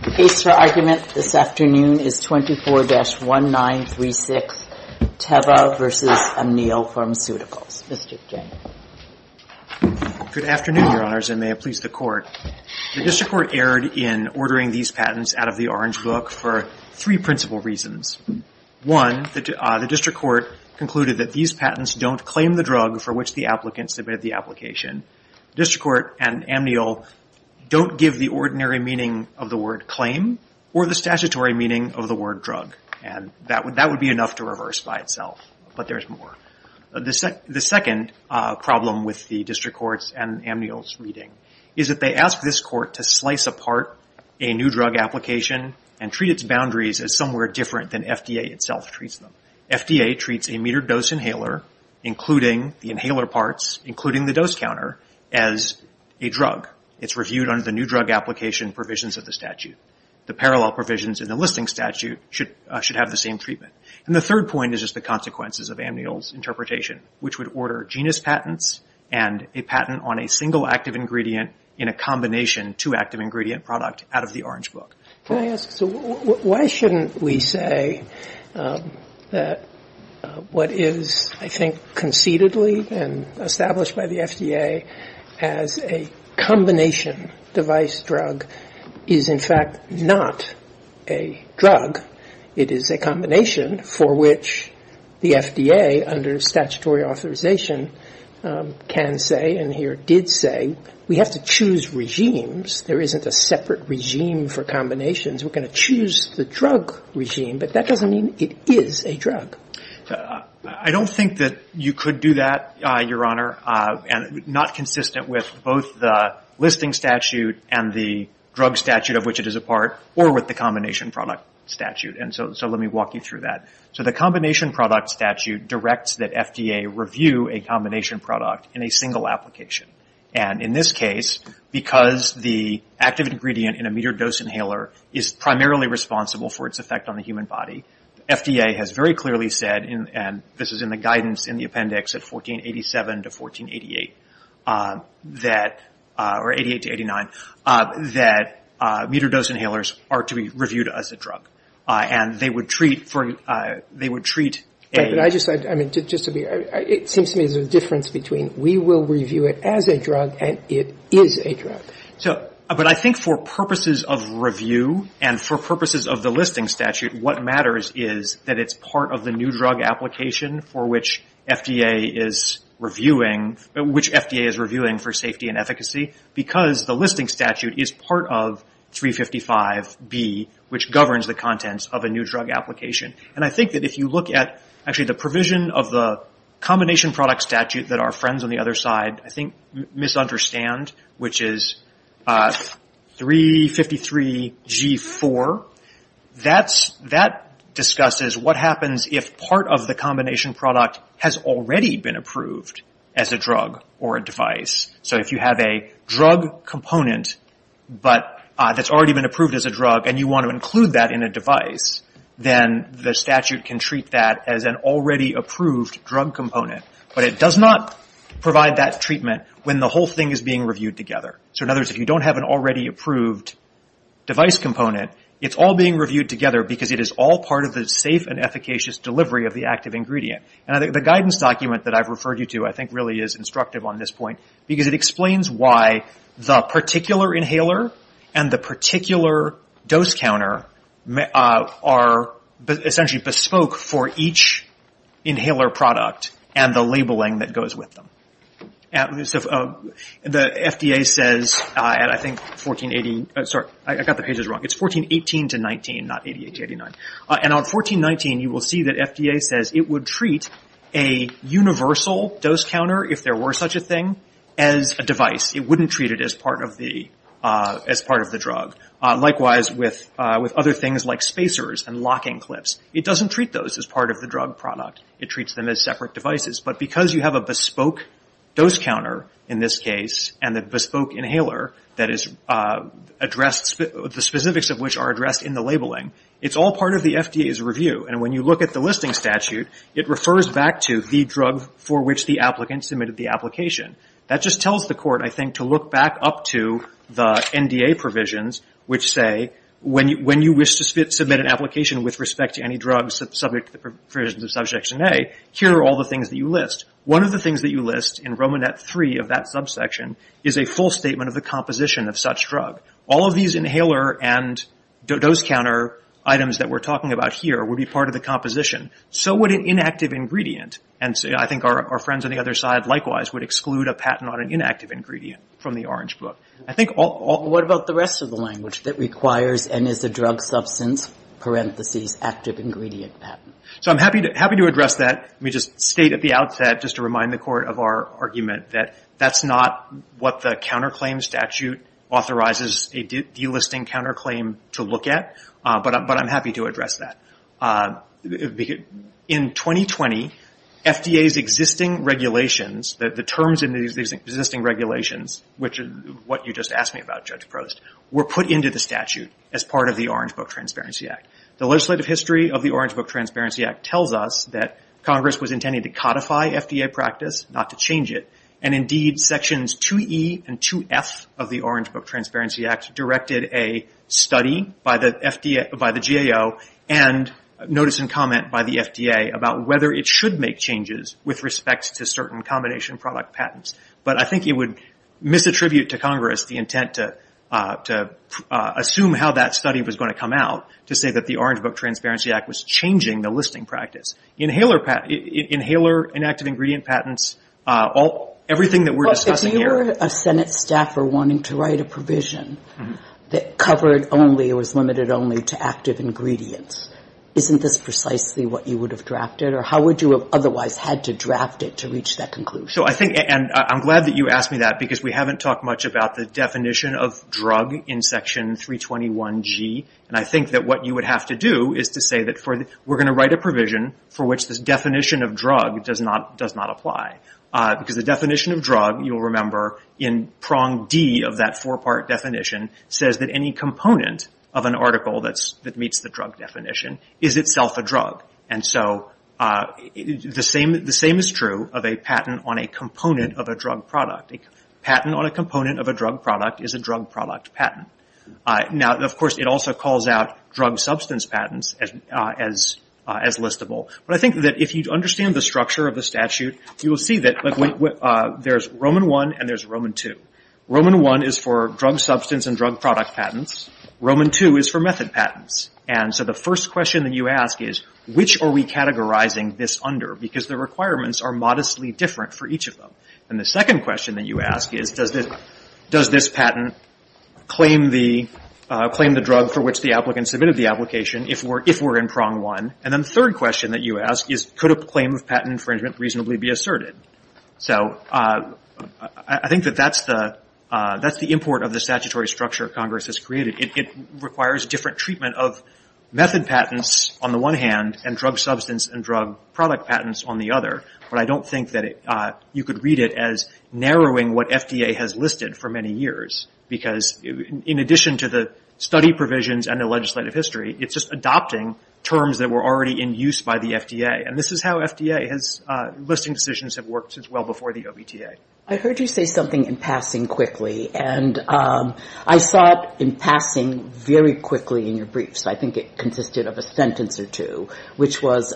The case for argument this afternoon is 24-1936, Teva v. Amneal Pharmaceuticals. Mr. J. Good afternoon, Your Honors, and may it please the Court. The District Court erred in ordering these patents out of the Orange Book for three principal reasons. One, the District Court concluded that these patents don't claim the drug for which the applicants submitted the application. The District Court and Amneal don't give the ordinary meaning of the word claim or the statutory meaning of the word drug. That would be enough to reverse by itself, but there's more. The second problem with the District Court's and Amneal's reading is that they ask this Court to slice apart a new drug application and treat its boundaries as somewhere different than FDA itself treats them. FDA treats a metered dose inhaler, including the inhaler parts, including the dose counter, as a drug. It's reviewed under the new drug application provisions of the statute. The parallel provisions in the listing statute should have the same treatment. And the third point is just the consequences of Amneal's interpretation, which would order genus patents and a patent on a single active ingredient in a combination two active ingredient product out of the Orange Book. Can I ask, so why shouldn't we say that what is, I think, conceitedly and established by the FDA as a combination device drug is, in fact, not a drug. It is a combination for which the FDA, under statutory authorization, can say and here did say, we have to choose regimes. There isn't a separate regime for combinations. We're going to choose the drug regime, but that doesn't mean it is a drug. I don't think that you could do that, Your Honor, and not consistent with both the listing statute and the drug statute of which it is a part or with the combination product statute. And so let me walk you through that. So the combination product statute directs that FDA review a combination product in a single application. And in this case, because the active ingredient in a metered dose inhaler is primarily responsible for its effect on the human body, FDA has very clearly said, and this is in the guidance in the appendix at 1487 to 1488 that, or 88 to 89, that metered dose inhalers are to be reviewed as a drug. And they would treat for, they would treat a. And I just, I mean, just to be, it seems to me there's a difference between we will review it as a drug and it is a drug. So, but I think for purposes of review and for purposes of the listing statute, what matters is that it's part of the new drug application for which FDA is reviewing, which FDA is reviewing for safety and efficacy because the listing statute is part of 355B, which governs the contents of a new drug application. And I think that if you look at, actually, the provision of the combination product statute that our friends on the other side, I think, misunderstand, which is 353G4, that discusses what happens if part of the combination product has already been approved as a drug or a device. So if you have a drug component, but that's already been approved as a drug, and you want to include that in a device, then the statute can treat that as an already approved drug component. But it does not provide that treatment when the whole thing is being reviewed together. So in other words, if you don't have an already approved device component, it's all being reviewed together because it is all part of the safe and efficacious delivery of the active ingredient. And I think the guidance document that I've referred you to, I think, really is instructive on this point, because it explains why the particular inhaler and the particular dose counter are essentially bespoke for each inhaler product and the labeling that goes with them. The FDA says, and I think 1480, sorry, I got the pages wrong. It's 1418 to 19, not 88 to 89. And on 1419, you will see that FDA says it would treat a universal dose counter, if there were such a thing, as a device. It wouldn't treat it as part of the drug. Likewise, with other things like spacers and locking clips, it doesn't treat those as part of the drug product. It treats them as separate devices. But because you have a bespoke dose counter, in this case, and a bespoke inhaler, that is addressed, the specifics of which are addressed in the labeling, it's all part of the FDA's review. And when you look at the listing statute, it refers back to the drug for which the applicant submitted the application. That just tells the court, I think, to look back up to the NDA provisions, which say, when you wish to submit an application with respect to any drugs subject to the provisions of Subsection A, here are all the things that you list. One of the things that you list in Romanet 3 of that subsection is a full statement of the composition of such drug. All of these inhaler and dose counter items that we're talking about here would be part of the composition. So would an inactive ingredient. And I think our friends on the other side, likewise, would exclude a patent on an inactive ingredient from the Orange Book. I think all – What about the rest of the language that requires, and is a drug substance, parentheses, active ingredient patent? So I'm happy to address that. Let me just state at the outset, just to remind the court of our argument, that that's not what the counterclaim statute authorizes a delisting counterclaim to look at. But I'm happy to address that. In 2020, FDA's existing regulations, the terms in these existing regulations, which is what you just asked me about, Judge Prost, were put into the statute as part of the Orange Book Transparency Act. The legislative history of the Orange Book Transparency Act tells us that Congress was intending to codify FDA practice, not to change it. And indeed, sections 2E and 2F of the Orange Book Transparency Act directed a study by the GAO and notice and comment by the FDA about whether it should make changes with respect to certain combination product patents. But I think it would misattribute to Congress the intent to assume how that study was going to come out, to say that the Orange Book Transparency Act was changing the listing practice. Inhaler inactive ingredient patents, everything that we're discussing here. If you were a Senate staffer wanting to write a provision that covered only or was limited only to active ingredients, isn't this precisely what you would have drafted? Or how would you have otherwise had to draft it to reach that conclusion? So I think, and I'm glad that you asked me that, because we haven't talked much about the definition of drug in section 321G. And I think that what you would have to do is to say that we're going to write a provision for which this definition of drug does not apply. Because the definition of drug, you'll remember, in prong D of that four-part definition, says that any component of an article that meets the drug definition is itself a drug. And so the same is true of a patent on a component of a drug product. A patent on a component of a drug product is a drug product patent. Now, of course, it also calls out drug substance patents as listable. But I think that if you understand the structure of the statute, you will see that there's Roman I and there's Roman II. Roman I is for drug substance and drug product patents. Roman II is for method patents. And so the first question that you ask is, which are we categorizing this under? Because the requirements are modestly different for each of them. And the second question that you ask is, does this patent claim the drug for which the applicant submitted the application, if we're in prong one? And then the third question that you ask is, could a claim of patent infringement reasonably be asserted? So I think that that's the import of the statutory structure Congress has created. It requires different treatment of method patents on the one hand and drug substance and drug product patents on the other. But I don't think that you could read it as narrowing what FDA has listed for many years, because in addition to the study provisions and the legislative history, it's just adopting terms that were already in use by the FDA. And this is how FDA has ‑‑ listing decisions have worked as well before the OBTA. I heard you say something in passing quickly. And I saw it in passing very quickly in your briefs. I think it consisted of a sentence or two, which was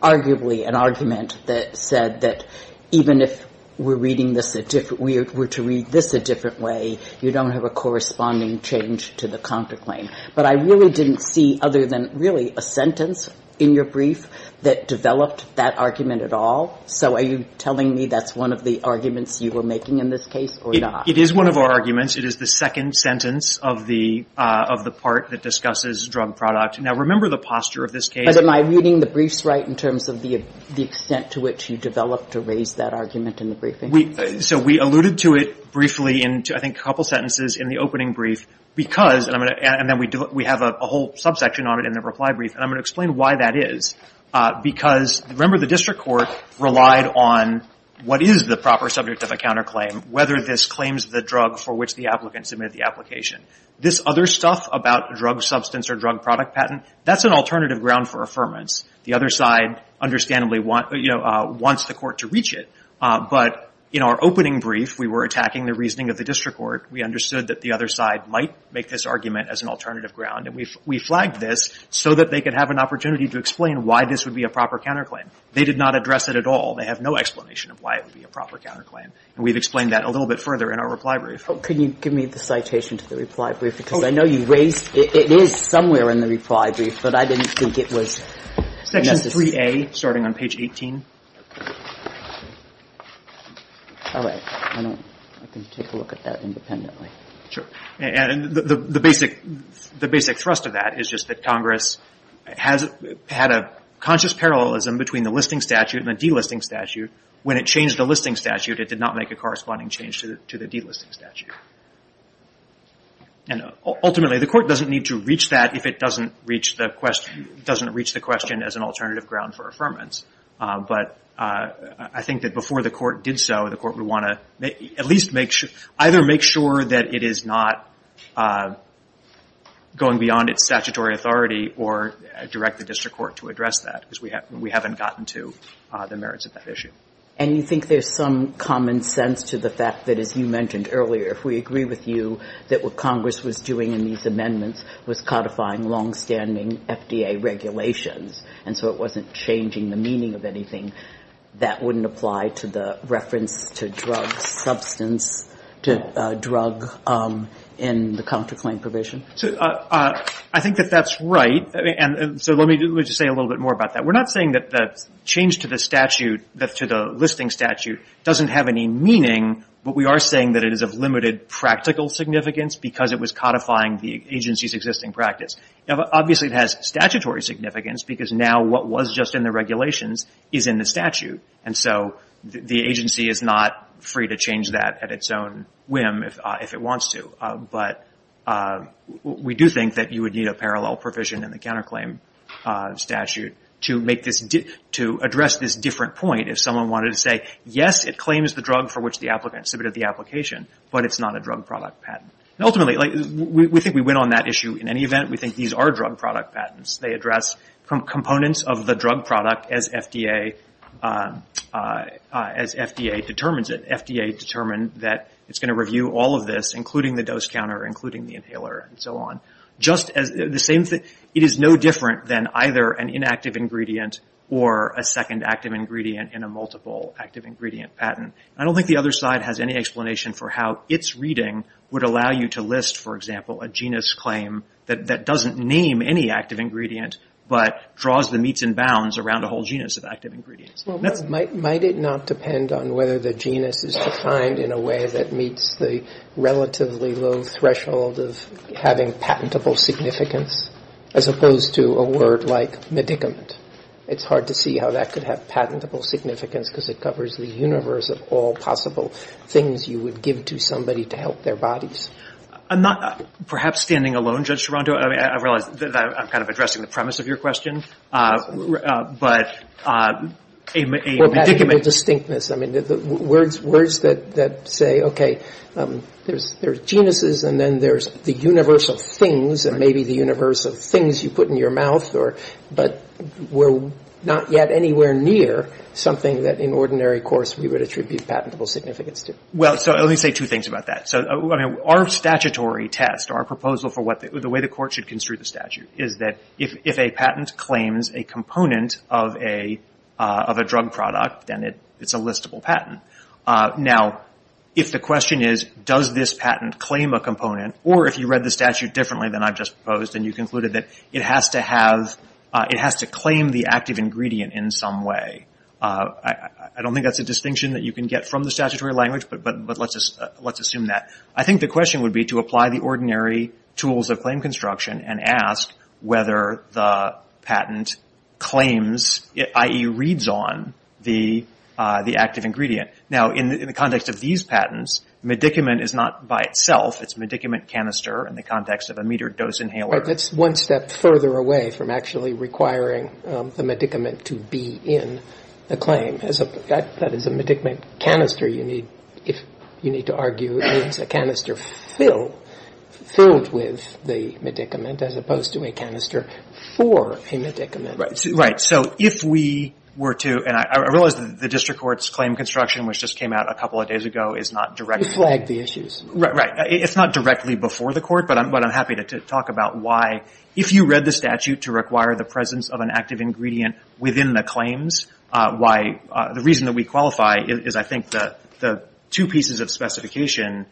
arguably an argument that said that even if we're reading this a different way, you don't have a corresponding change to the contraclaim. But I really didn't see other than really a sentence in your brief that developed that argument at all. So are you telling me that's one of the arguments you were making in this case or not? It is one of our arguments. It is the second sentence of the part that discusses drug product. Now, remember the posture of this case. But am I reading the briefs right in terms of the extent to which you developed to raise that argument in the briefing? So we alluded to it briefly in, I think, a couple sentences in the opening brief, because, and then we have a whole subsection on it in the reply brief, and I'm going to explain why that is. Because, remember, the district court relied on what is the proper subject of a counterclaim, whether this claims the drug for which the applicant submitted the application. This other stuff about drug substance or drug product patent, that's an alternative ground for affirmance. The other side, understandably, wants the court to reach it. But in our opening brief, we were attacking the reasoning of the district court. We understood that the other side might make this argument as an alternative ground, and we flagged this so that they could have an opportunity to explain why this would be a proper counterclaim. They did not address it at all. They have no explanation of why it would be a proper counterclaim. And we've explained that a little bit further in our reply brief. Can you give me the citation to the reply brief? Because I know you raised it. It is somewhere in the reply brief, but I didn't think it was necessary. Section 3A, starting on page 18. All right. I can take a look at that independently. Sure. And the basic thrust of that is just that Congress had a conscious parallelism between the listing statute and the delisting statute. When it changed the listing statute, it did not make a corresponding change to the delisting statute. And ultimately, the court doesn't need to reach that if it doesn't reach the question as an alternative ground for affirmance. But I think that before the court did so, the court would want to at least either make sure that it is not going beyond its statutory authority or direct the district court to address that because we haven't gotten to the merits of that issue. And you think there's some common sense to the fact that, as you mentioned earlier, if we agree with you that what Congress was doing in these amendments was codifying longstanding FDA regulations and so it wasn't changing the meaning of anything, that wouldn't apply to the reference to drug substance, to drug in the counterclaim provision? I think that that's right. And so let me just say a little bit more about that. We're not saying that the change to the statute, to the listing statute, doesn't have any meaning, but we are saying that it is of limited practical significance because it was codifying the agency's existing practice. Obviously, it has statutory significance because now what was just in the regulations is in the statute. And so the agency is not free to change that at its own whim if it wants to. But we do think that you would need a parallel provision in the counterclaim statute to address this different point. If someone wanted to say, yes, it claims the drug for which the applicant submitted the application, but it's not a drug product patent. Ultimately, we think we win on that issue in any event. We think these are drug product patents. They address components of the drug product as FDA determines it. FDA determined that it's going to review all of this, including the dose counter, including the inhaler, and so on. It is no different than either an inactive ingredient or a second active ingredient in a multiple active ingredient patent. I don't think the other side has any explanation for how its reading would allow you to list, for example, a genus claim that doesn't name any active ingredient, but draws the meets and bounds around a whole genus of active ingredients. Well, might it not depend on whether the genus is defined in a way that meets the relatively low threshold of having patentable significance as opposed to a word like medicament? It's hard to see how that could have patentable significance, because it covers the universe of all possible things you would give to somebody to help their bodies. I'm not perhaps standing alone, Judge Toronto. I realize that I'm kind of addressing the premise of your question, but a medicament. Or patentable distinctness. I mean, words that say, okay, there's genuses, and then there's the universe of things, and maybe the universe of things you put in your mouth, but we're not yet anywhere near something that in ordinary course we would attribute patentable significance to. Well, so let me say two things about that. Our statutory test, our proposal for the way the court should construe the statute, is that if a patent claims a component of a drug product, then it's a listable patent. Now, if the question is, does this patent claim a component, or if you read the statute differently than I've just proposed, and you concluded that it has to claim the active ingredient in some way, I don't think that's a distinction that you can get from the statutory language, but let's assume that. I think the question would be to apply the ordinary tools of claim construction and ask whether the patent claims, i.e., reads on the active ingredient. Now, in the context of these patents, medicament is not by itself. It's a medicament canister in the context of a metered dose inhaler. That's one step further away from actually requiring the medicament to be in the claim. That is a medicament canister, you need to argue. It's a canister filled with the medicament as opposed to a canister for a medicament. So if we were to, and I realize that the district court's claim construction, which just came out a couple of days ago, is not directly. We flagged the issues. Right. It's not directly before the court, but I'm happy to talk about why, if you read the statute to require the presence of an active ingredient within the claims, why the reason that we qualify is, I think, the two pieces of specification.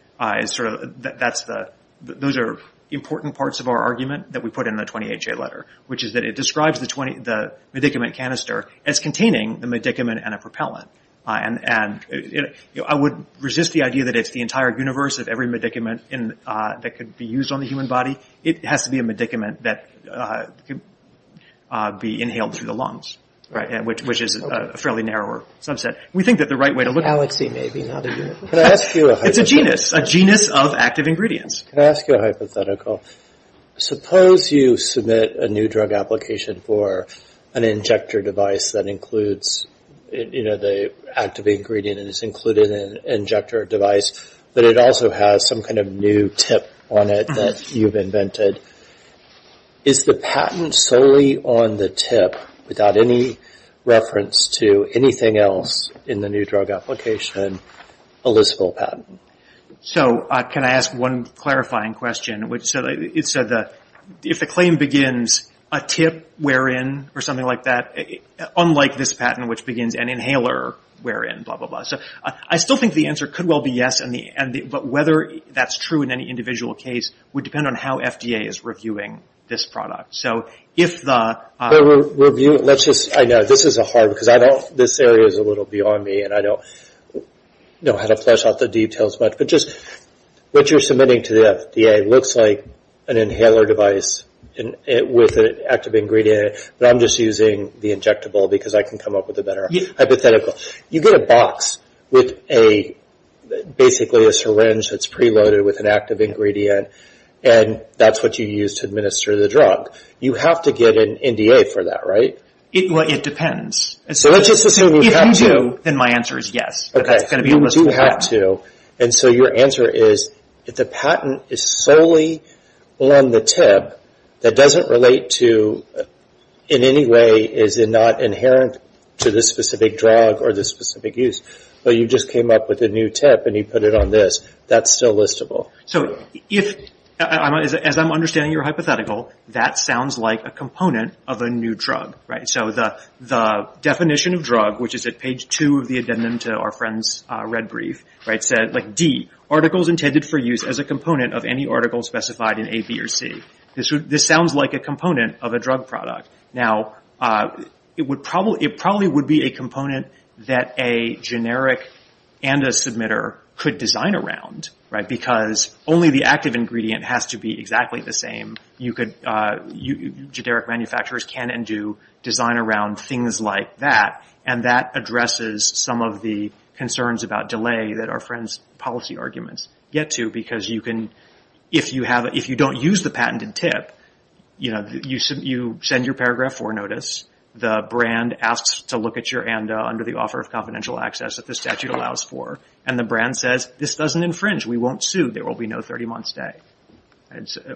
Those are important parts of our argument that we put in the 20HA letter, which is that it describes the medicament canister as containing the medicament and a propellant. I would resist the idea that it's the entire universe of every medicament that could be used on the human body. It has to be a medicament that could be inhaled through the lungs. Right. Which is a fairly narrower subset. We think that the right way to look at it. Galaxy, maybe. Can I ask you a hypothetical? It's a genus. A genus of active ingredients. Can I ask you a hypothetical? Suppose you submit a new drug application for an injector device that includes the active ingredient and it's included in an injector device, but it also has some kind of new tip on it that you've invented. Is the patent solely on the tip, without any reference to anything else in the new drug application, a listable patent? Can I ask one clarifying question? It said that if the claim begins, a tip wherein, or something like that, unlike this patent which begins an inhaler wherein, blah, blah, blah. I still think the answer could well be yes, but whether that's true in any individual case would depend on how FDA is reviewing this product. I know. This is hard because this area is a little beyond me and I don't know how to flesh out the details much, but just what you're submitting to the FDA looks like an inhaler device with an active ingredient in it, but I'm just using the injectable because I can come up with a better hypothetical. You get a box with basically a syringe that's preloaded with an active ingredient and that's what you use to administer the drug. You have to get an NDA for that, right? It depends. So let's just assume you have to. If you do, then my answer is yes. Okay. But that's going to be a listable patent. You do have to, and so your answer is if the patent is solely on the tip, that doesn't relate to in any way is it not inherent to this specific drug or this specific use, but you just came up with a new tip and you put it on this, that's still listable. So if, as I'm understanding your hypothetical, that sounds like a component of a new drug, right? So the definition of drug, which is at page two of the addendum to our friend's red brief, D, articles intended for use as a component of any article specified in A, B, or C. This sounds like a component of a drug product. Now, it probably would be a component that a generic and a submitter could design around, right, because only the active ingredient has to be exactly the same. Generic manufacturers can and do design around things like that, and that addresses some of the concerns about delay that our friend's policy arguments get to, because you can, if you don't use the patented tip, you know, you send your paragraph for notice. The brand asks to look at your ANDA under the offer of confidential access that the statute allows for, and the brand says, this doesn't infringe. We won't sue. There will be no 30-month stay,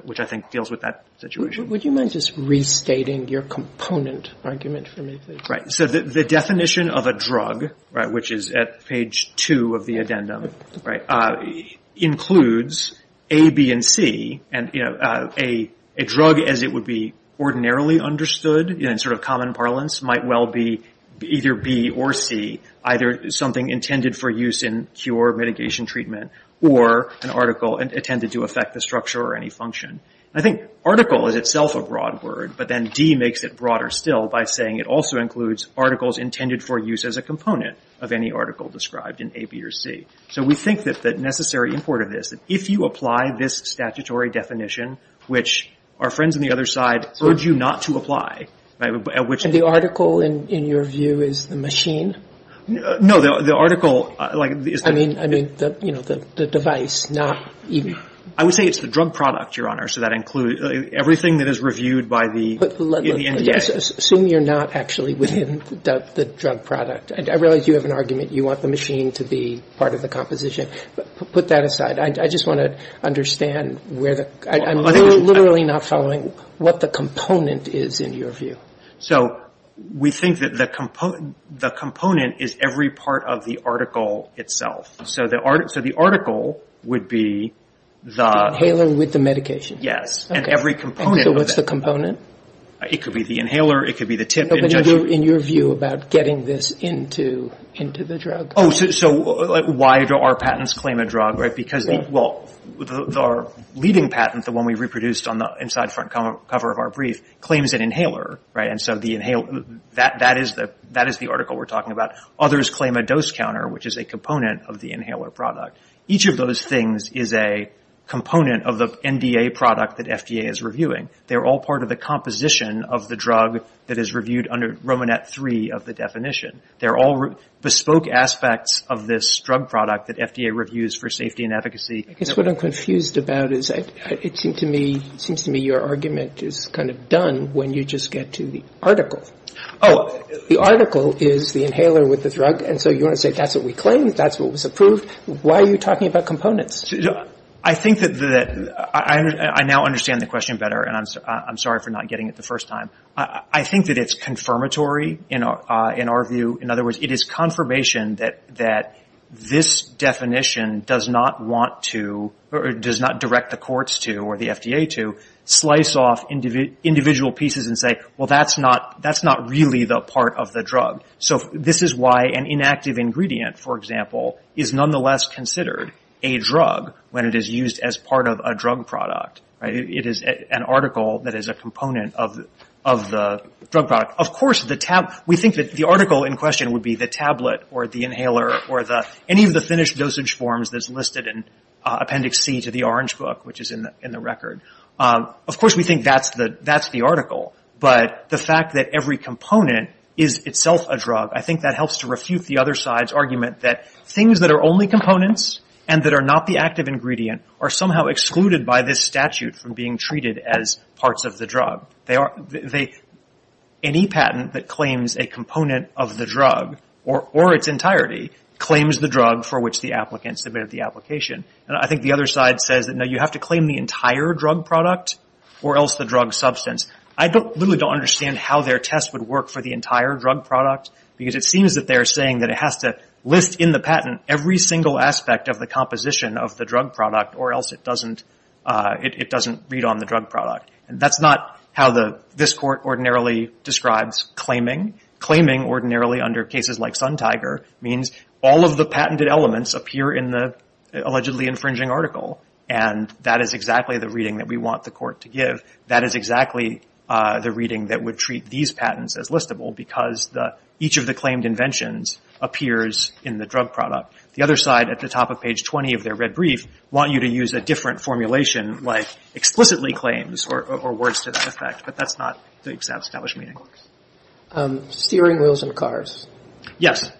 which I think deals with that situation. Would you mind just restating your component argument for me, please? Right. So the definition of a drug, right, which is at page two of the addendum, right, includes A, B, and C, and, you know, a drug as it would be ordinarily understood in sort of common parlance might well be either B or C, either something intended for use in cure, mitigation treatment, or an article intended to affect the structure or any function. I think article is itself a broad word, but then D makes it broader still by saying it also includes articles intended for use as a component of any article described in A, B, or C. So we think that the necessary import of this, that if you apply this statutory definition, which our friends on the other side urge you not to apply, at which the article in your view is the machine. No, the article, like, I mean, I mean, you know, the device, not even. I would say it's the drug product, Your Honor, so that includes everything that is reviewed by the NDA. Assume you're not actually within the drug product. I realize you have an argument. You want the machine to be part of the composition. Put that aside. I just want to understand where the – I'm literally not following what the component is in your view. So we think that the component is every part of the article itself. So the article would be the – The inhaler with the medication. Yes, and every component of that. And so what's the component? It could be the inhaler. It could be the tip. But in your view about getting this into the drug. Oh, so why do our patents claim a drug, right? Because, well, our leading patent, the one we reproduced on the inside front cover of our brief, claims an inhaler, right? And so the inhaler, that is the article we're talking about. Others claim a dose counter, which is a component of the inhaler product. Each of those things is a component of the NDA product that FDA is reviewing. They're all part of the composition of the drug that is reviewed under Romanet 3 of the definition. They're all bespoke aspects of this drug product that FDA reviews for safety and efficacy. I guess what I'm confused about is it seems to me your argument is kind of done when you just get to the article. Oh, the article is the inhaler with the drug. And so you want to say that's what we claim, that's what was approved. Why are you talking about components? I think that I now understand the question better, and I'm sorry for not getting it the first time. I think that it's confirmatory in our view. In other words, it is confirmation that this definition does not want to, or does not direct the courts to or the FDA to, slice off individual pieces and say, well, that's not really the part of the drug. So this is why an inactive ingredient, for example, is nonetheless considered a drug when it is used as part of a drug product. It is an article that is a component of the drug product. Of course, we think that the article in question would be the tablet or the inhaler or any of the finished dosage forms that's listed in Appendix C to the Orange Book, which is in the record. Of course, we think that's the article, but the fact that every component is itself a drug, I think that helps to refute the other side's argument that things that are only components and that are not the active ingredient are somehow excluded by this statute from being treated as parts of the drug. Any patent that claims a component of the drug or its entirety claims the drug for which the applicant submitted the application. And I think the other side says that, no, you have to claim the entire drug product or else the drug substance. I literally don't understand how their test would work for the entire drug product, because it seems that they're saying that it has to list in the patent every single aspect of the composition of the drug product or else it doesn't read on the drug product. And that's not how this court ordinarily describes claiming. Claiming ordinarily under cases like Suntiger means all of the patented elements appear in the allegedly infringing article. And that is exactly the reading that we want the court to give. That is exactly the reading that would treat these patents as listable, because each of the claimed inventions appears in the drug product. The other side at the top of page 20 of their red brief want you to use a different formulation, like explicitly claims or words to that effect. But that's not the established meaning. Steering wheels in cars. Yes.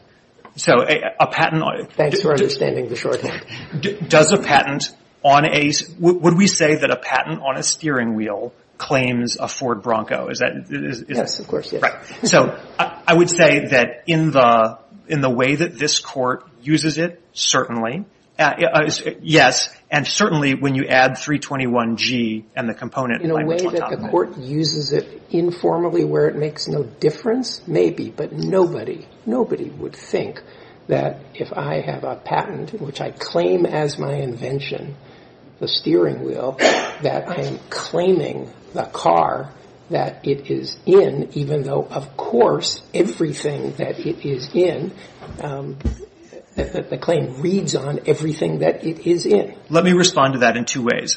So a patent on it. Thanks for understanding the shorthand. Does a patent on a – would we say that a patent on a steering wheel claims a Ford Bronco? Is that – Yes, of course. Right. So I would say that in the way that this court uses it, certainly. Yes. And certainly when you add 321G and the component. In a way that the court uses it informally where it makes no difference, maybe. But nobody, nobody would think that if I have a patent which I claim as my invention, the steering wheel, that I'm claiming the car that it is in, even though, of course, everything that it is in, the claim reads on everything that it is in. Let me respond to that in two ways.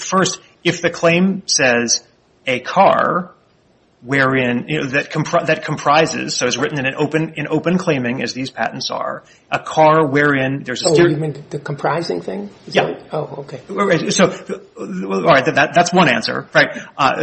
First, if the claim says a car wherein – that comprises, so it's written in open claiming as these patents are, a car wherein there's a steering wheel. You mean the comprising thing? Oh, okay. So, all right. That's one answer. Right.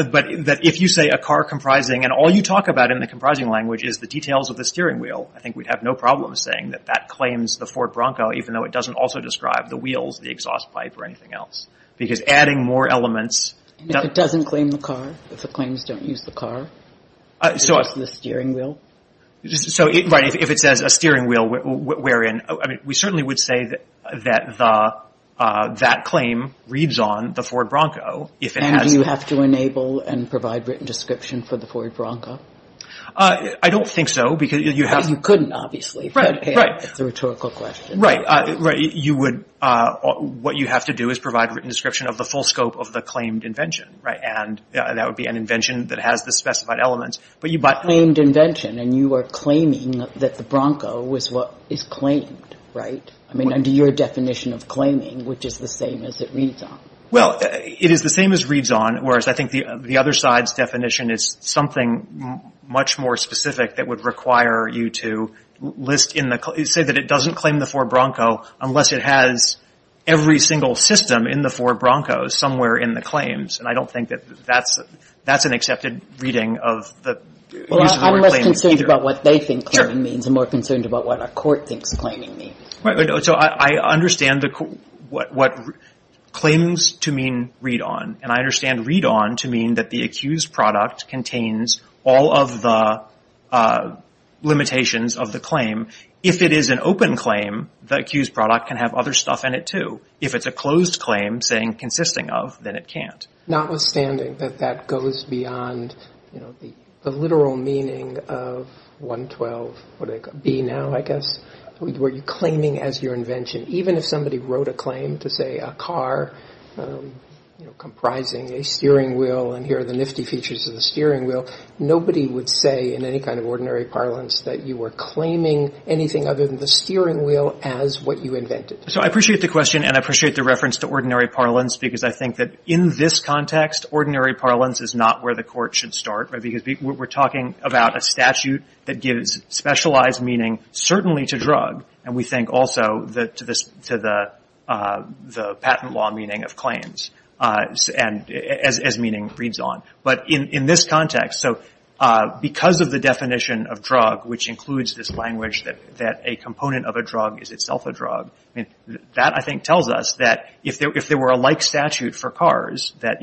But if you say a car comprising, and all you talk about in the comprising language is the details of the steering wheel, I think we'd have no problem saying that that claims the Ford Bronco, even though it doesn't also describe the wheels, the exhaust pipe, or anything else. Because adding more elements – And if it doesn't claim the car, if the claims don't use the car, it's just the steering wheel? So, right. If it says a steering wheel wherein – I mean, we certainly would say that that claim reads on the Ford Bronco if it has – And do you have to enable and provide written description for the Ford Bronco? I don't think so, because you have – But you couldn't, obviously. Right, right. It's a rhetorical question. Right. You would – what you have to do is provide written description of the full scope of the claimed invention, right? And that would be an invention that has the specified elements, but you – I mean, under your definition of claiming, which is the same as it reads on. Well, it is the same as reads on, whereas I think the other side's definition is something much more specific that would require you to list in the – say that it doesn't claim the Ford Bronco unless it has every single system in the Ford Bronco somewhere in the claims. And I don't think that that's – that's an accepted reading of the use of the word claiming either. Well, I'm less concerned about what they think claiming means and more concerned about what a court thinks claiming means. Right. So I understand the – what claims to mean read on, and I understand read on to mean that the accused product contains all of the limitations of the claim. If it is an open claim, the accused product can have other stuff in it too. If it's a closed claim saying consisting of, then it can't. Notwithstanding that that goes beyond the literal meaning of 112B now, I guess, where you're claiming as your invention. Even if somebody wrote a claim to, say, a car comprising a steering wheel and here are the nifty features of the steering wheel, nobody would say in any kind of ordinary parlance that you were claiming anything other than the steering wheel as what you invented. So I appreciate the question and I appreciate the reference to ordinary parlance because I think that in this context, ordinary parlance is not where the court should start. Right. Because we're talking about a statute that gives specialized meaning certainly to drug and we think also to the patent law meaning of claims as meaning reads on. But in this context, so because of the definition of drug, which includes this language that a component of a drug is itself a drug, that I think tells us that if there were a like statute for cars that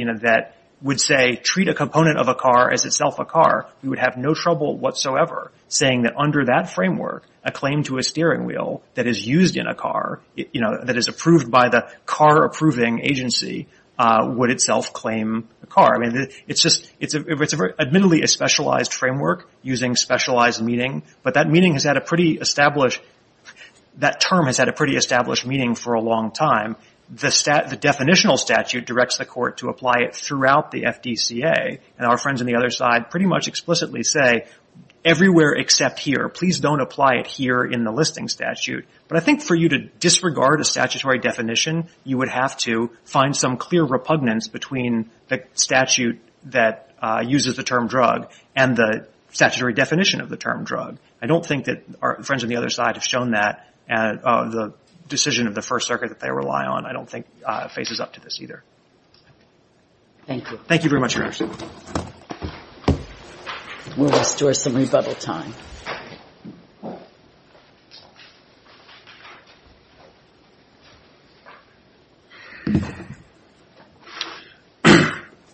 would say, treat a component of a car as itself a car, you would have no trouble whatsoever saying that under that framework, a claim to a steering wheel that is used in a car, that is approved by the car approving agency, would itself claim a car. It's admittedly a specialized framework using specialized meaning, but that meaning has had a pretty established, that term has had a pretty established meaning for a long time. The definitional statute directs the court to apply it throughout the FDCA and our friends on the other side pretty much explicitly say, everywhere except here, please don't apply it here in the listing statute. But I think for you to disregard a statutory definition, you would have to find some clear repugnance between the statute that uses the term drug and the statutory definition of the term drug. I don't think that our friends on the other side have shown that and the decision of the First Circuit that they rely on I don't think faces up to this either. Thank you. Thank you very much, Your Honor. We'll restore some rebuttal time.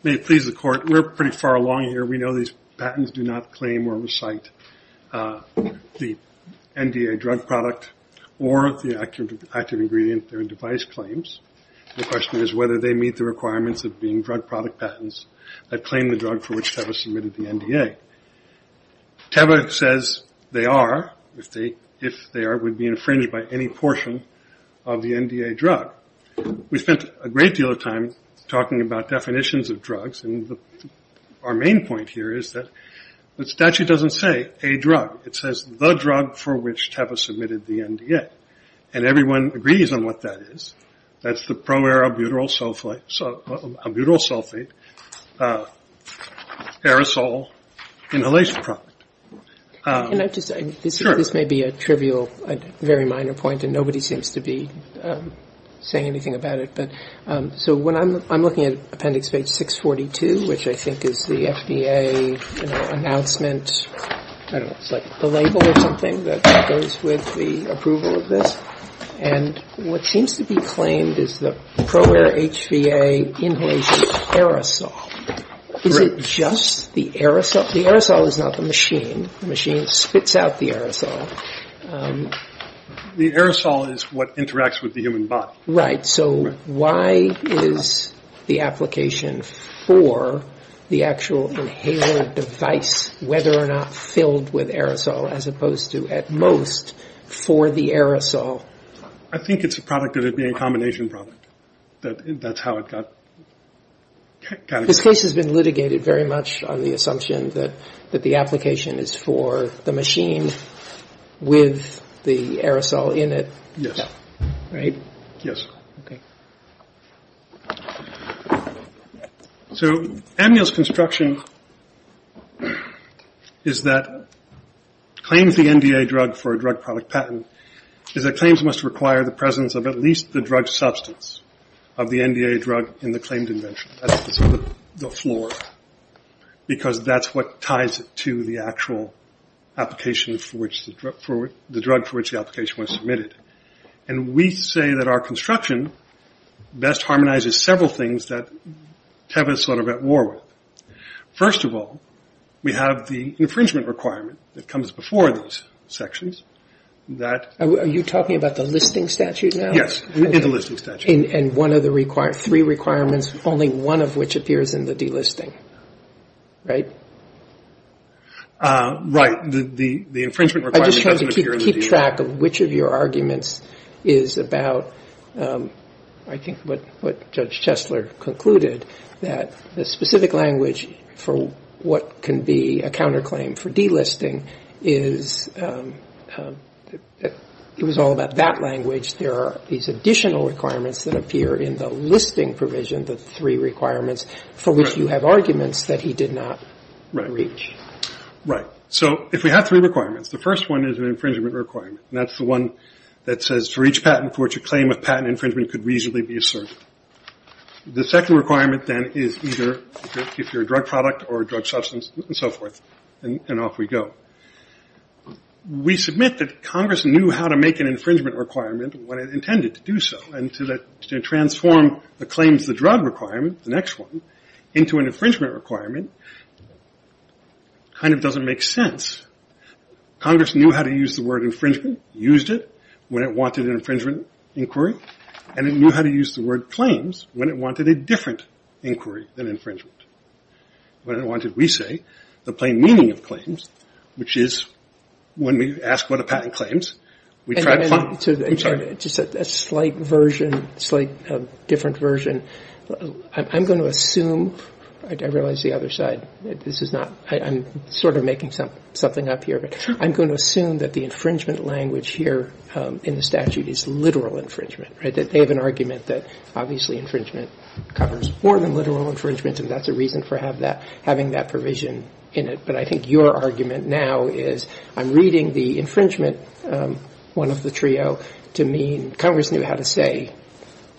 May it please the Court, we're pretty far along here. We know these patents do not claim or recite the NDA drug product or the active ingredient or device claims. The question is whether they meet the requirements of being drug product patents that claim the drug for which TEVA submitted the NDA. TEVA says they are, if they are, would be infringed by any portion of the NDA drug. We spent a great deal of time talking about definitions of drugs and our main point here is that the statute doesn't say a drug. It says the drug for which TEVA submitted the NDA. And everyone agrees on what that is. That's the pro-arabutyl sulfate aerosol inhalation product. Can I just say, this may be a trivial, very minor point, and nobody seems to be saying anything about it. So I'm looking at appendix page 642, which I think is the FDA announcement, I don't know, it's like the label or something that goes with the approval of this. And what seems to be claimed is the Proware HVA inhalation aerosol. Is it just the aerosol? The aerosol is not the machine. The machine spits out the aerosol. The aerosol is what interacts with the human body. Right. So why is the application for the actual inhaler device, whether or not filled with aerosol as opposed to, at most, for the aerosol? I think it's a product that would be a combination product. That's how it got categorized. This case has been litigated very much on the assumption that the application is for the machine with the aerosol in it. Yes. Right. Yes. Okay. So amnial's construction is that claims the NDA drug for a drug product patent is that claims must require the presence of at least the drug substance of the NDA drug in the claimed invention. That's the floor, because that's what ties it to the actual application for which the drug for which the application was submitted. And we say that our construction best harmonizes several things that TEVA is sort of at war with. First of all, we have the infringement requirement that comes before these sections. Are you talking about the listing statute now? Yes. In the listing statute. And one of the three requirements, only one of which appears in the delisting. Right? Right. The infringement requirement doesn't appear in the delisting. I just wanted to keep track of which of your arguments is about, I think what Judge Chesler concluded, that the specific language for what can be a counterclaim for delisting is it was all about that language. There are these additional requirements that appear in the listing provision, the three requirements for which you have arguments that he did not reach. Right. So if we have three requirements, the first one is an infringement requirement, and that's the one that says for each patent for which a claim of patent infringement could reasonably be asserted. The second requirement, then, is either if you're a drug product or a drug substance and so forth, and off we go. We submit that Congress knew how to make an infringement requirement when it intended to do so, and to transform the claims of the drug requirement, the next one, into an infringement requirement kind of doesn't make sense. Congress knew how to use the word infringement, used it when it wanted an infringement inquiry, and it knew how to use the word claims when it wanted a different inquiry than infringement. When it wanted, we say, the plain meaning of claims, which is when we ask what a patent claims, we try to find them. I'm sorry. Just a slight version, slight different version. I'm going to assume, I realize the other side, this is not, I'm sort of making something up here, but I'm going to assume that the infringement language here in the statute is literal infringement, right, that they have an argument that obviously infringement covers more than literal infringement and that's a reason for having that provision in it, but I think your argument now is I'm reading the infringement, one of the trio, to mean Congress knew how to say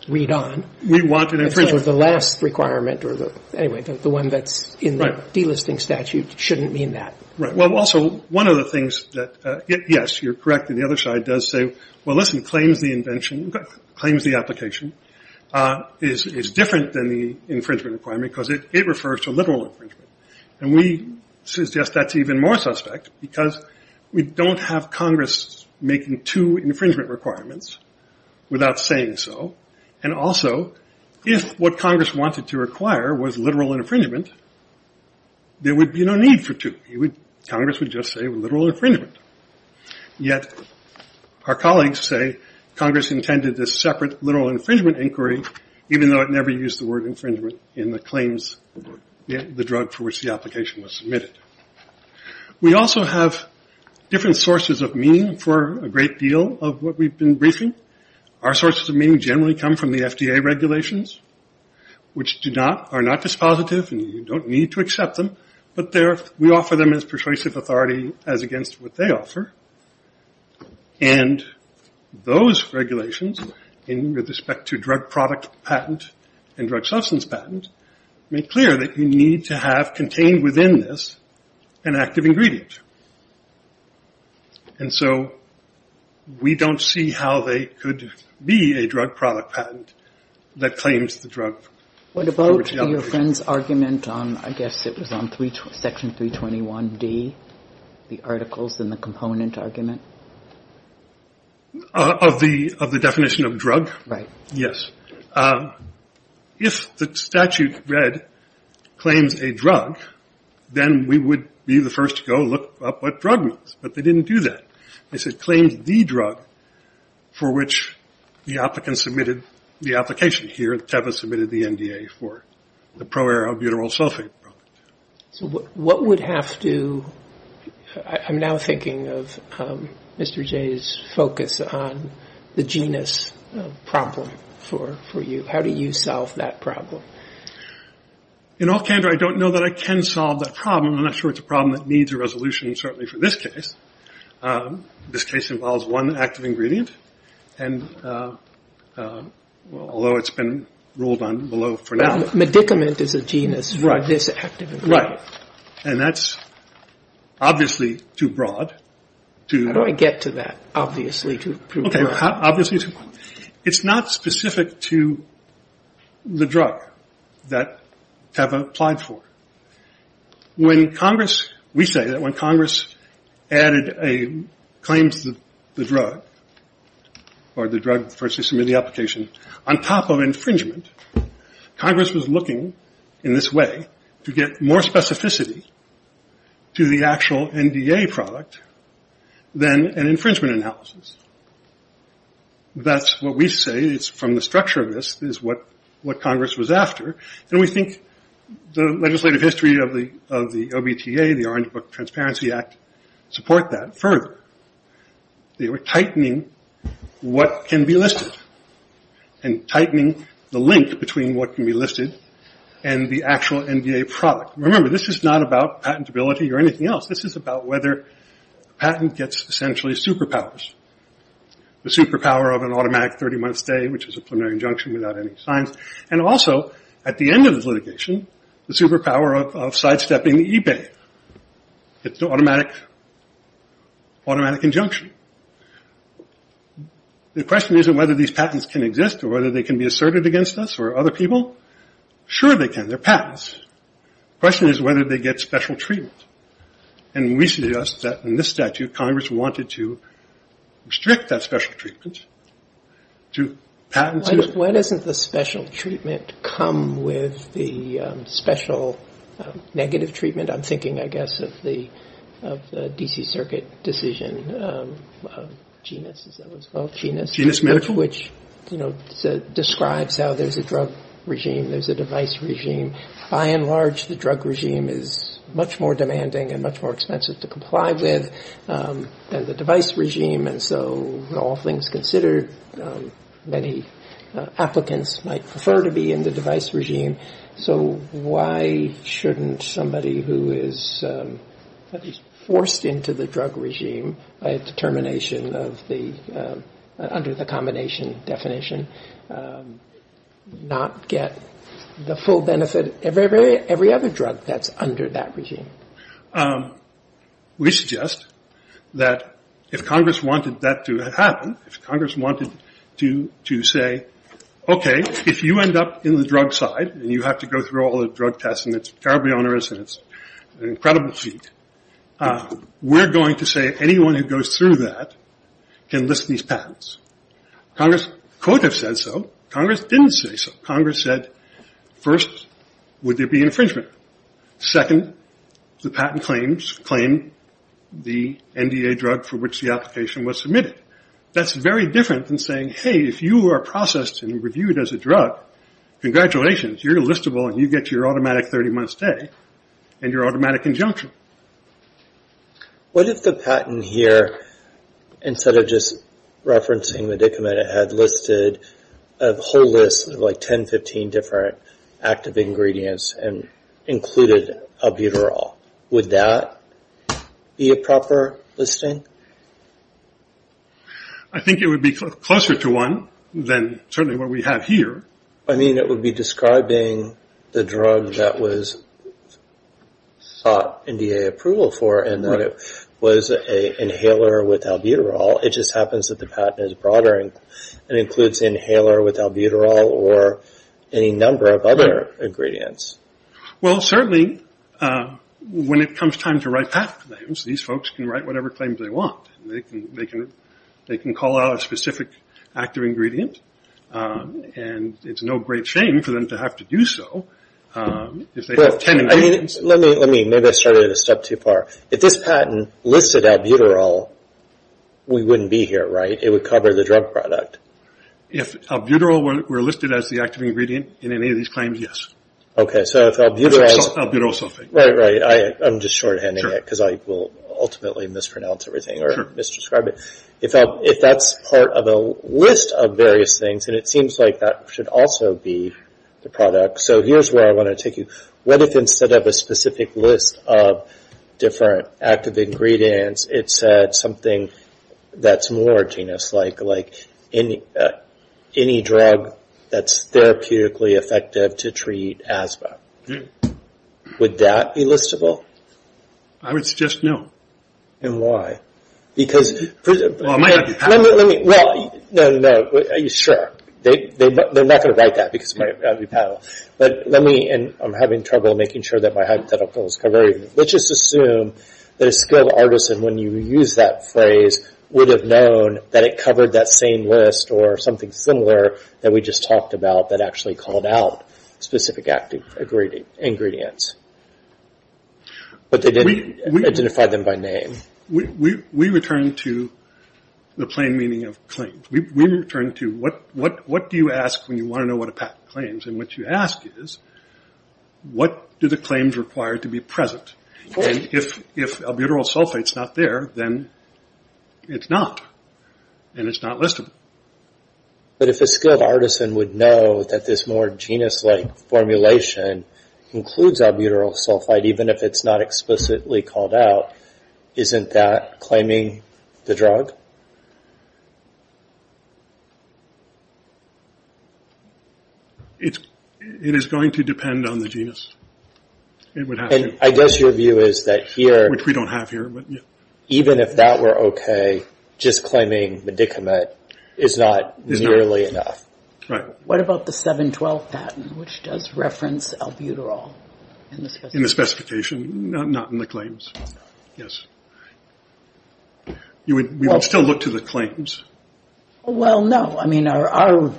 read on. We want an infringement. The last requirement, or anyway, the one that's in the delisting statute shouldn't mean that. Right. Well, also, one of the things that, yes, you're correct, and the other side does say, well, listen, claims the invention, claims the application is different than the infringement requirement because it refers to literal infringement, and we suggest that's even more suspect because we don't have Congress making two infringement requirements without saying so, and also if what Congress wanted to require was literal infringement, there would be no need for two. Congress would just say literal infringement, yet our colleagues say Congress intended this separate literal infringement inquiry even though it never used the word infringement in the claims, the drug for which the application was submitted. We also have different sources of meaning for a great deal of what we've been briefing. Our sources of meaning generally come from the FDA regulations, which are not dispositive and you don't need to accept them, but we offer them as persuasive authority as against what they offer, and those regulations with respect to drug product patent and drug substance patent make clear that you need to have contained within this an active ingredient, and so we don't see how they could be a drug product patent that claims the drug for which the application was submitted. What about your friend's argument on I guess it was on section 321D, the articles and the component argument? Of the definition of drug? Right. Yes. If the statute read claims a drug, then we would be the first to go look up what drug means, but they didn't do that. They said claims the drug for which the applicant submitted the application here, TEPA submitted the NDA for the pro-arrow butyrosulfate product. So what would have to, I'm now thinking of Mr. Jay's focus on the genus problem for you. How do you solve that problem? In all candor, I don't know that I can solve that problem. I'm not sure it's a problem that needs a resolution certainly for this case. This case involves one active ingredient, and although it's been ruled on below for now. Medicament is a genus for this active ingredient. And that's obviously too broad. How do I get to that obviously? Okay. Obviously it's not specific to the drug that TEPA applied for. When Congress, we say that when Congress added a claim to the drug, or the drug first to submit the application, on top of infringement, Congress was looking in this way to get more specificity to the actual NDA product than an infringement analysis. That's what we say. It's from the structure of this is what Congress was after. And we think the legislative history of the OBTA, the Orange Book Transparency Act, support that further. They were tightening what can be listed. And tightening the link between what can be listed and the actual NDA product. Remember, this is not about patentability or anything else. This is about whether a patent gets essentially superpowers. The superpower of an automatic 30-month stay, which is a preliminary injunction without any signs. And also, at the end of this litigation, the superpower of sidestepping eBay. It's an automatic injunction. The question isn't whether these patents can exist or whether they can be asserted against us or other people. Sure they can. They're patents. The question is whether they get special treatment. And we suggest that in this statute, Congress wanted to restrict that special treatment to patents. Why doesn't the special treatment come with the special negative treatment? I'm thinking, I guess, of the D.C. Circuit decision, genus, as that was called. Genus medical? Which describes how there's a drug regime, there's a device regime. By and large, the drug regime is much more demanding and much more expensive to comply with than the device regime. And so with all things considered, many applicants might prefer to be in the device regime. So why shouldn't somebody who is forced into the drug regime by a determination of the, under the combination definition, not get the full benefit of every other drug that's under that regime? We suggest that if Congress wanted that to happen, if Congress wanted to say, okay, if you end up in the drug side and you have to go through all the drug tests and it's terribly onerous and it's an incredible feat, we're going to say anyone who goes through that can list these patents. Congress could have said so. Congress didn't say so. Congress said, first, would there be infringement? Second, the patent claims claim the NDA drug for which the application was submitted. That's very different than saying, hey, if you are processed and reviewed as a drug, congratulations, you're listable and you get your automatic 30-month stay and your automatic injunction. What if the patent here, instead of just referencing the document, it had listed a whole list of like 10, 15 different active ingredients and included albuterol. Would that be a proper listing? I think it would be closer to one than certainly what we have here. I mean, it would be describing the drug that was sought NDA approval for and that it was an inhaler with albuterol. It just happens that the patent is broader and includes inhaler with albuterol or any number of other ingredients. Well, certainly, when it comes time to write patent claims, these folks can write whatever claims they want. They can call out a specific active ingredient and it's no great shame for them to have to do so if they have 10 ingredients. Let me, maybe I started a step too far. If this patent listed albuterol, we wouldn't be here, right? It would cover the drug product. If albuterol were listed as the active ingredient in any of these claims, yes. Okay, so if albuterol is... Albuterol sulfate. Right, right. I'm just shorthanding it because I will ultimately mispronounce everything or misdescribe it. If that's part of a list of various things, and it seems like that should also be the product. So here's where I want to take you. What if instead of a specific list of different active ingredients, it said something that's more genus-like, like any drug that's therapeutically effective to treat asthma? Would that be listable? I would suggest no. And why? Because... Well, it might not be patentable. Well, no, no, no, sure. They're not going to write that because it might not be patentable. But let me... And I'm having trouble making sure that my hypothetical is covered. Let's just assume that a skilled artisan, when you use that phrase, would have known that it covered that same list or something similar that we just talked about that actually called out specific active ingredients. But they didn't identify them by name. We return to the plain meaning of claims. We return to what do you ask when you want to know what a patent claims? And what you ask is what do the claims require to be present? And if albuterol sulfate's not there, then it's not, and it's not listable. But if a skilled artisan would know that this more genus-like formulation includes albuterol sulfate, even if it's not explicitly called out, isn't that claiming the drug? It is going to depend on the genus. It would have to. I guess your view is that here... Which we don't have here. Even if that were okay, just claiming medicament is not nearly enough. Right. What about the 7-12 patent, which does reference albuterol in the specification? Not in the claims. Yes. We would still look to the claims. Well, no. I mean, our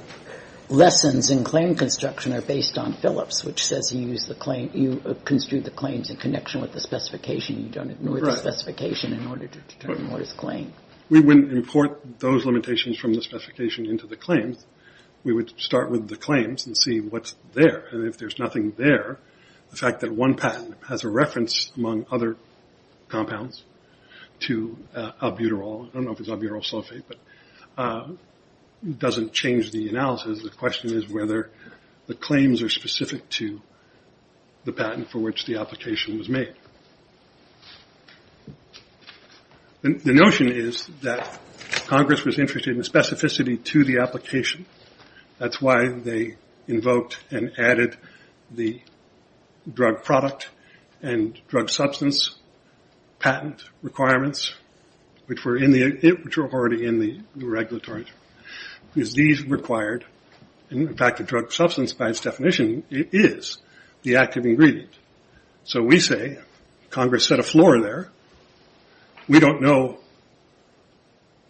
lessons in claim construction are based on Phillips, which says you use the claim, you construe the claims in connection with the specification. You don't ignore the specification in order to determine what is claimed. We wouldn't import those limitations from the specification into the claims. We would start with the claims and see what's there. And if there's nothing there, the fact that one patent has a reference among other compounds to albuterol, I don't know if it's albuterol sulfate, but doesn't change the analysis. The question is whether the claims are specific to the patent for which the application was made. The notion is that Congress was interested in the specificity to the application. That's why they invoked and added the drug product and drug substance patent requirements, which were already in the regulatory. Because these required, in fact, the drug substance by its definition is the active ingredient. So we say Congress set a floor there. We don't know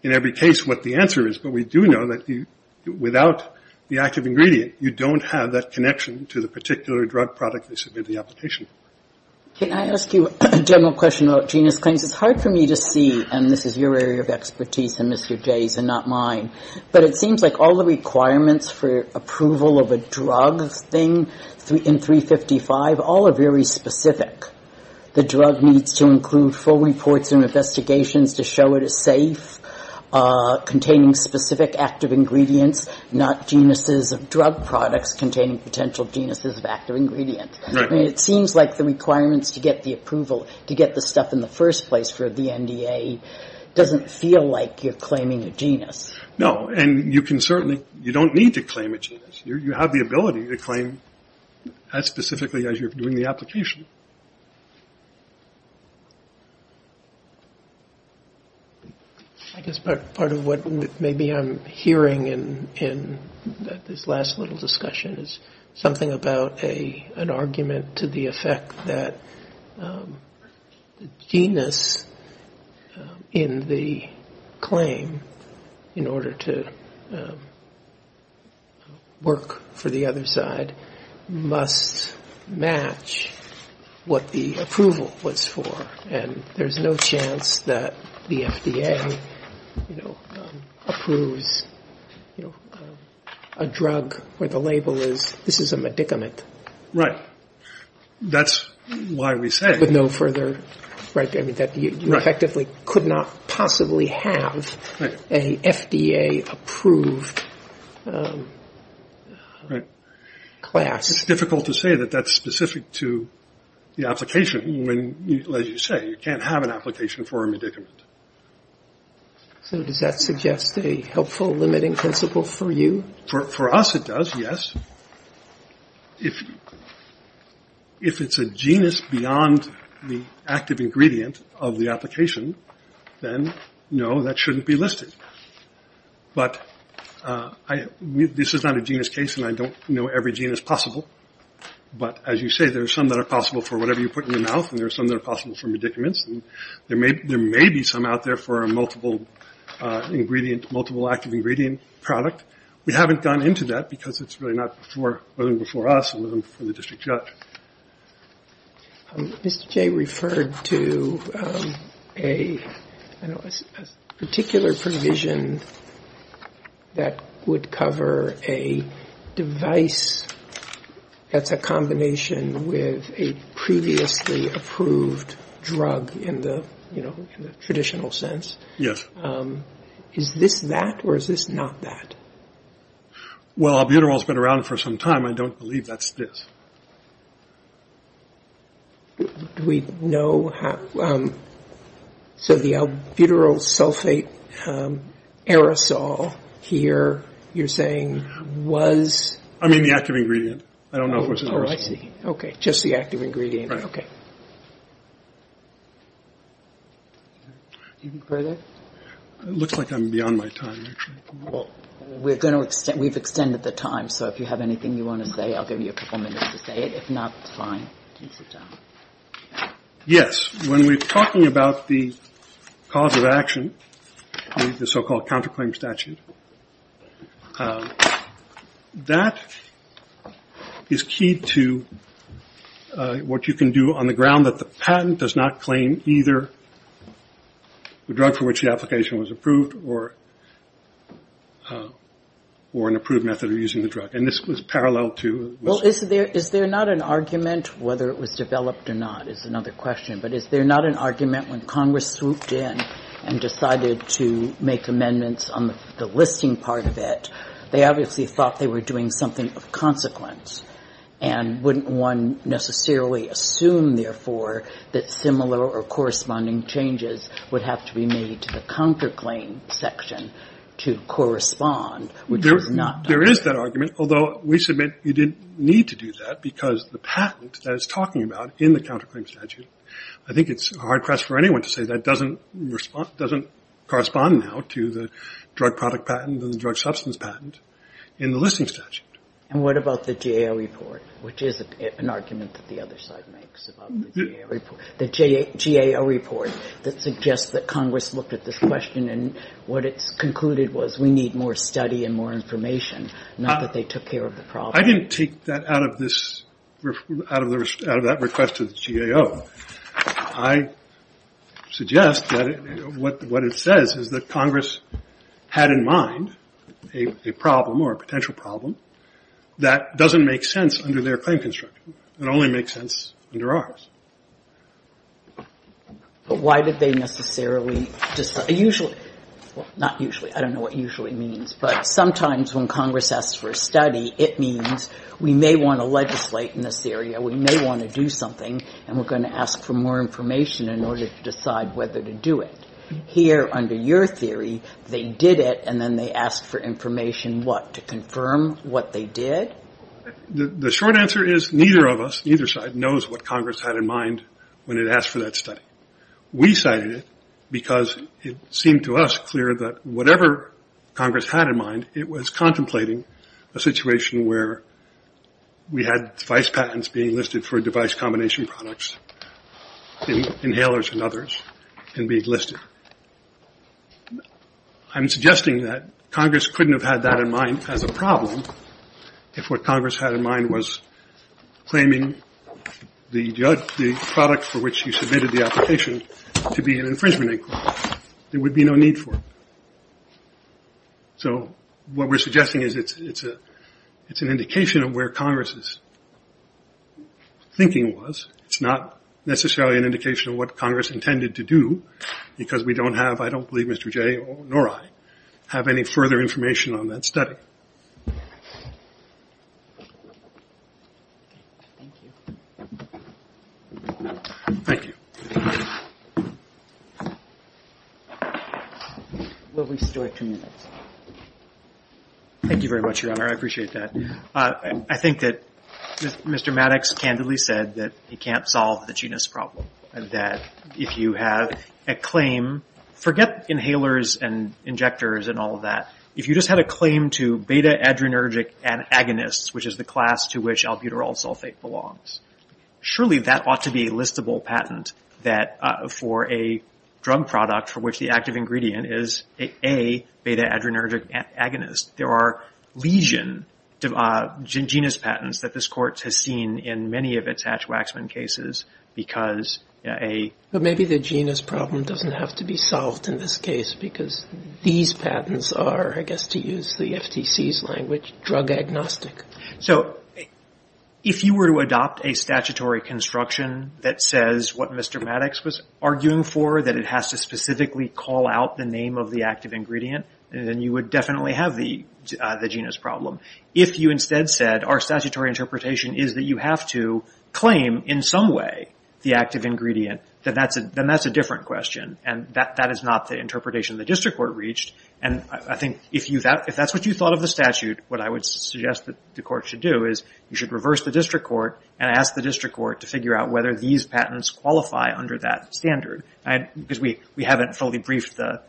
in every case what the answer is, but we do know that without the active ingredient, you don't have that connection to the particular drug product they submitted the application for. Can I ask you a general question about genius claims? It's hard for me to see, and this is your area of expertise and Mr. J's and not mine, but it seems like all the requirements for approval of a drug thing in 355, all are very specific. The drug needs to include full reports and investigations to show it is safe, containing specific active ingredients, not geniuses of drug products containing potential geniuses of active ingredient. It seems like the requirements to get the approval, to get the stuff in the first place for the NDA, doesn't feel like you're claiming a genius. No, and you can certainly, you don't need to claim a genius. You have the ability to claim as specifically as you're doing the application. Part of what maybe I'm hearing in this last little discussion is something about an argument to the effect that genius in the claim, in order to work for the other side, must match what the approval was for, and there's no chance that the FDA approves a drug where the label is, this is a medicament. Right. That's why we say. With no further, that you effectively could not possibly have an FDA approved class. It's difficult to say that that's specific to the application when, as you say, you can't have an application for a medicament. So does that suggest a helpful limiting principle for you? For us it does, yes. If it's a genius beyond the active ingredient of the application, then no, that shouldn't be listed. But this is not a genius case, and I don't know every genius possible. But as you say, there are some that are possible for whatever you put in your mouth, and there are some that are possible for medicaments. And there may be some out there for a multiple ingredient, multiple active ingredient product. We haven't gone into that because it's really not before before us and for the district judge. Mr. Jay referred to a particular provision that would cover a device that's a combination with a previously approved drug in the traditional sense. Yes. Is this that or is this not that? Well, albuterol has been around for some time. I don't believe that's this. Do we know how? So the albuterol sulfate aerosol here you're saying was? I mean the active ingredient. I don't know if it was aerosol. Oh, I see. Okay, just the active ingredient. Okay. Do you prefer that? It looks like I'm beyond my time, actually. Well, we've extended the time, so if you have anything you want to say, I'll give you a couple minutes to say it. If not, it's fine. You can sit down. Yes. When we're talking about the cause of action, the so-called counterclaim statute, that is key to what you can do on the ground that the patent does not claim either the drug for which the application was approved or an approved method of using the drug. And this was parallel to? Well, is there not an argument whether it was developed or not is another question, but is there not an argument when Congress swooped in and decided to make amendments on the listing part of it, they obviously thought they were doing something of consequence and wouldn't one necessarily assume, therefore, that similar or corresponding changes would have to be made to the counterclaim section to correspond? There is that argument, although we submit you didn't need to do that because the patent that it's talking about in the counterclaim statute, I think it's a hard press for anyone to say that doesn't correspond now to the drug product patent and the drug substance patent in the listing statute. And what about the GAO report, which is an argument that the other side makes about the GAO report that suggests that Congress looked at this question and what it concluded was we need more study and more information, not that they took care of the problem. I didn't take that out of this, out of that request to the GAO. I suggest that what it says is that Congress had in mind a problem or a potential problem that doesn't make sense under their claim construction. It only makes sense under ours. But why did they necessarily decide? Usually, well, not usually. I don't know what usually means, but sometimes when Congress asks for a study, it means we may want to legislate in this area, we may want to do something, and we're going to ask for more information in order to decide whether to do it. Here, under your theory, they did it and then they asked for information, what, to confirm what they did? The short answer is neither of us, neither side, knows what Congress had in mind when it asked for that study. We cited it because it seemed to us clear that whatever Congress had in mind, it was contemplating a situation where we had device patents being listed for device combination products, inhalers and others can be listed. I'm suggesting that Congress couldn't have had that in mind as a problem if what Congress had in mind was claiming the product for which you submitted the application to be an infringement inquiry. There would be no need for it. What we're suggesting is it's an indication of where Congress's thinking was. It's not necessarily an indication of what Congress intended to do, because we don't have, I don't believe Mr. J., nor I, have any further information on that study. Thank you. We'll restore two minutes. Thank you very much, Your Honor. I appreciate that. I think that Mr. Maddox candidly said that he can't solve the genus problem, that if you have a claim, forget inhalers and injectors and all of that, if you just had a claim to beta-adrenergic agonists, which is the class to which albuterol sulfate belongs, surely that ought to be a listable patent for a drug product for which the active ingredient is a beta-adrenergic agonist. There are lesion genus patents that this Court has seen in many of its Hatch-Waxman cases. But maybe the genus problem doesn't have to be solved in this case, because these patents are, I guess to use the FTC's language, drug agnostic. If you were to adopt a statutory construction that says what Mr. Maddox was arguing for, that it has to specifically call out the name of the active ingredient, then you would definitely have the genus problem. If you instead said, our statutory interpretation is that you have to claim in some way the active ingredient, then that's a different question. That is not the interpretation the District Court reached. I think if that's what you thought of the statute, what I would suggest that the Court should do is you should reverse the District Court and ask the District Court to figure out whether these patents qualify under that standard. We haven't fully briefed the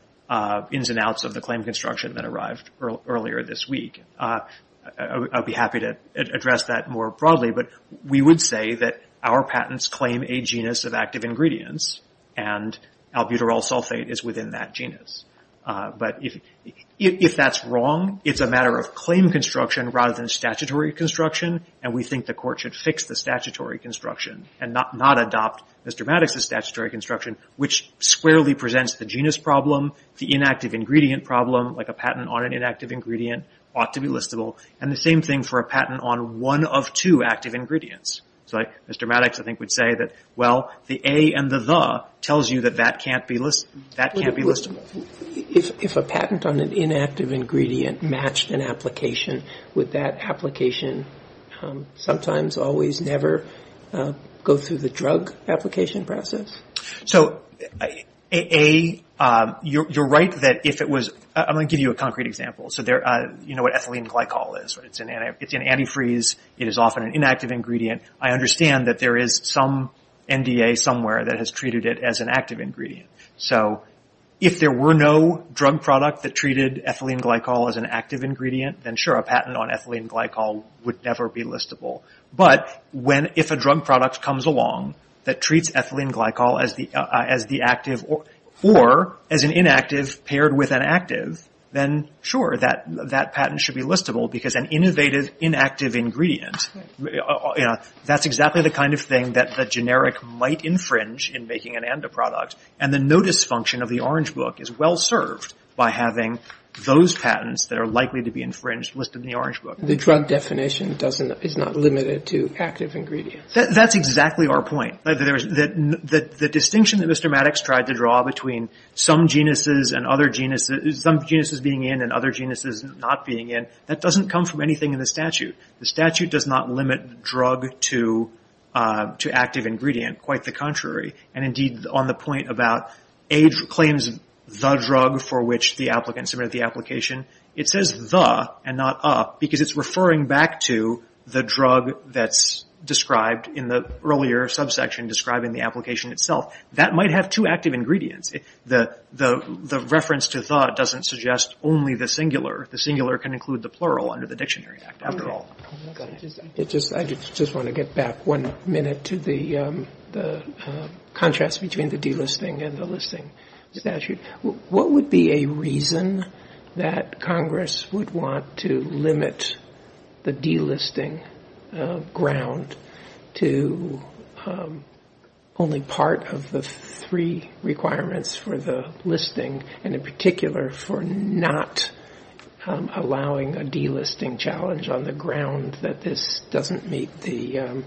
ins and outs of the claim construction that arrived earlier this week. I'll be happy to address that more broadly, but we would say that our patents claim a genus of active ingredients, and albuterol sulfate is within that genus. If that's wrong, it's a matter of claim construction rather than statutory construction, and we think the Court should fix the statutory construction and not adopt Mr. Maddox's statutory construction, which squarely presents the genus problem, the inactive ingredient problem, like a patent on an inactive ingredient ought to be listable, and the same thing for a patent on one of two active ingredients. So Mr. Maddox, I think, would say that, well, the a and the the tells you that that can't be listable. If a patent on an inactive ingredient matched an application, would that application sometimes always never go through the drug application process? So a, you're right that if it was – I'm going to give you a concrete example. So you know what ethylene glycol is, right? It's an antifreeze. It is often an inactive ingredient. I understand that there is some NDA somewhere that has treated it as an active ingredient. So if there were no drug product that treated ethylene glycol as an active ingredient, then sure, a patent on ethylene glycol would never be listable. But if a drug product comes along that treats ethylene glycol as the active or as an inactive paired with an active, then sure, that patent should be listable because an innovative inactive ingredient, you know, that's exactly the kind of thing that the generic might infringe in making an ANDA product. And the notice function of the Orange Book is well served by having those patents that are likely to be infringed listed in the Orange Book. The drug definition doesn't – is not limited to active ingredients. That's exactly our point. The distinction that Mr. Maddox tried to draw between some genuses and other genuses – it doesn't come from anything in the statute. The statute does not limit drug to active ingredient. Quite the contrary. And indeed on the point about age claims the drug for which the applicant submitted the application, it says the and not a because it's referring back to the drug that's described in the earlier subsection describing the application itself. That might have two active ingredients. The reference to the doesn't suggest only the singular. The singular can include the plural under the Dictionary Act after all. I just want to get back one minute to the contrast between the delisting and the listing statute. What would be a reason that Congress would want to limit the delisting ground to only part of the three requirements for the listing and in particular for not allowing a delisting challenge on the ground that this doesn't meet the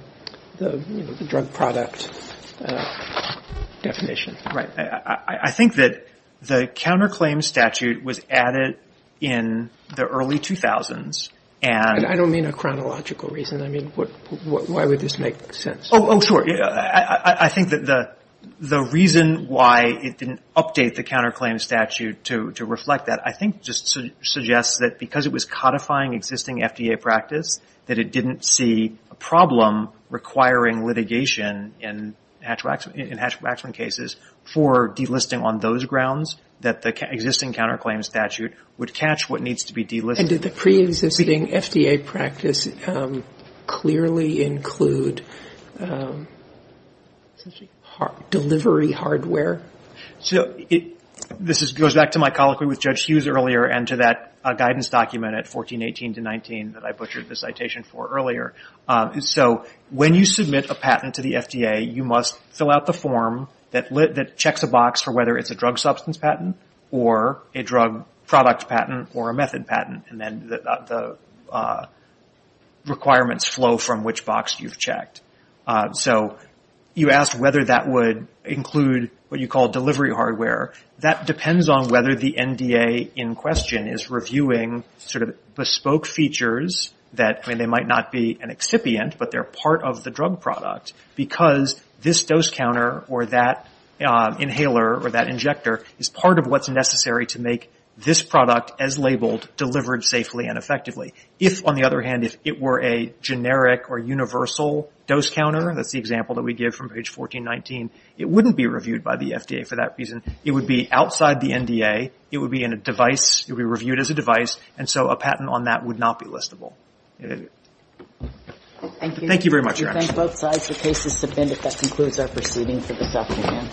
drug product definition? I think that the counterclaim statute was added in the early 2000s and – I don't mean a chronological reason. I mean why would this make sense? Oh, sure. I think that the reason why it didn't update the counterclaim statute to reflect that I think just suggests that because it was codifying existing FDA practice that it didn't see a problem requiring litigation in Hatch-Waxman cases for delisting on those grounds that the existing counterclaim statute would catch what needs to be delisted. Did the pre-existing FDA practice clearly include delivery hardware? This goes back to my colloquy with Judge Hughes earlier and to that guidance document at 1418-19 that I butchered the citation for earlier. When you submit a patent to the FDA, you must fill out the form that checks a box for whether it's a drug substance patent or a drug product patent or a method patent and then the requirements flow from which box you've checked. So you asked whether that would include what you call delivery hardware. That depends on whether the NDA in question is reviewing sort of bespoke features that – I mean they might not be an excipient but they're part of the drug product because this dose counter or that inhaler or that injector is part of what's necessary to make this product as labeled delivered safely and effectively. If, on the other hand, if it were a generic or universal dose counter, that's the example that we give from page 1419, it wouldn't be reviewed by the FDA for that reason. It would be outside the NDA. It would be in a device. It would be reviewed as a device and so a patent on that would not be listable. Thank you. Thank you very much. We thank both sides for cases submitted. That concludes our proceeding for this afternoon.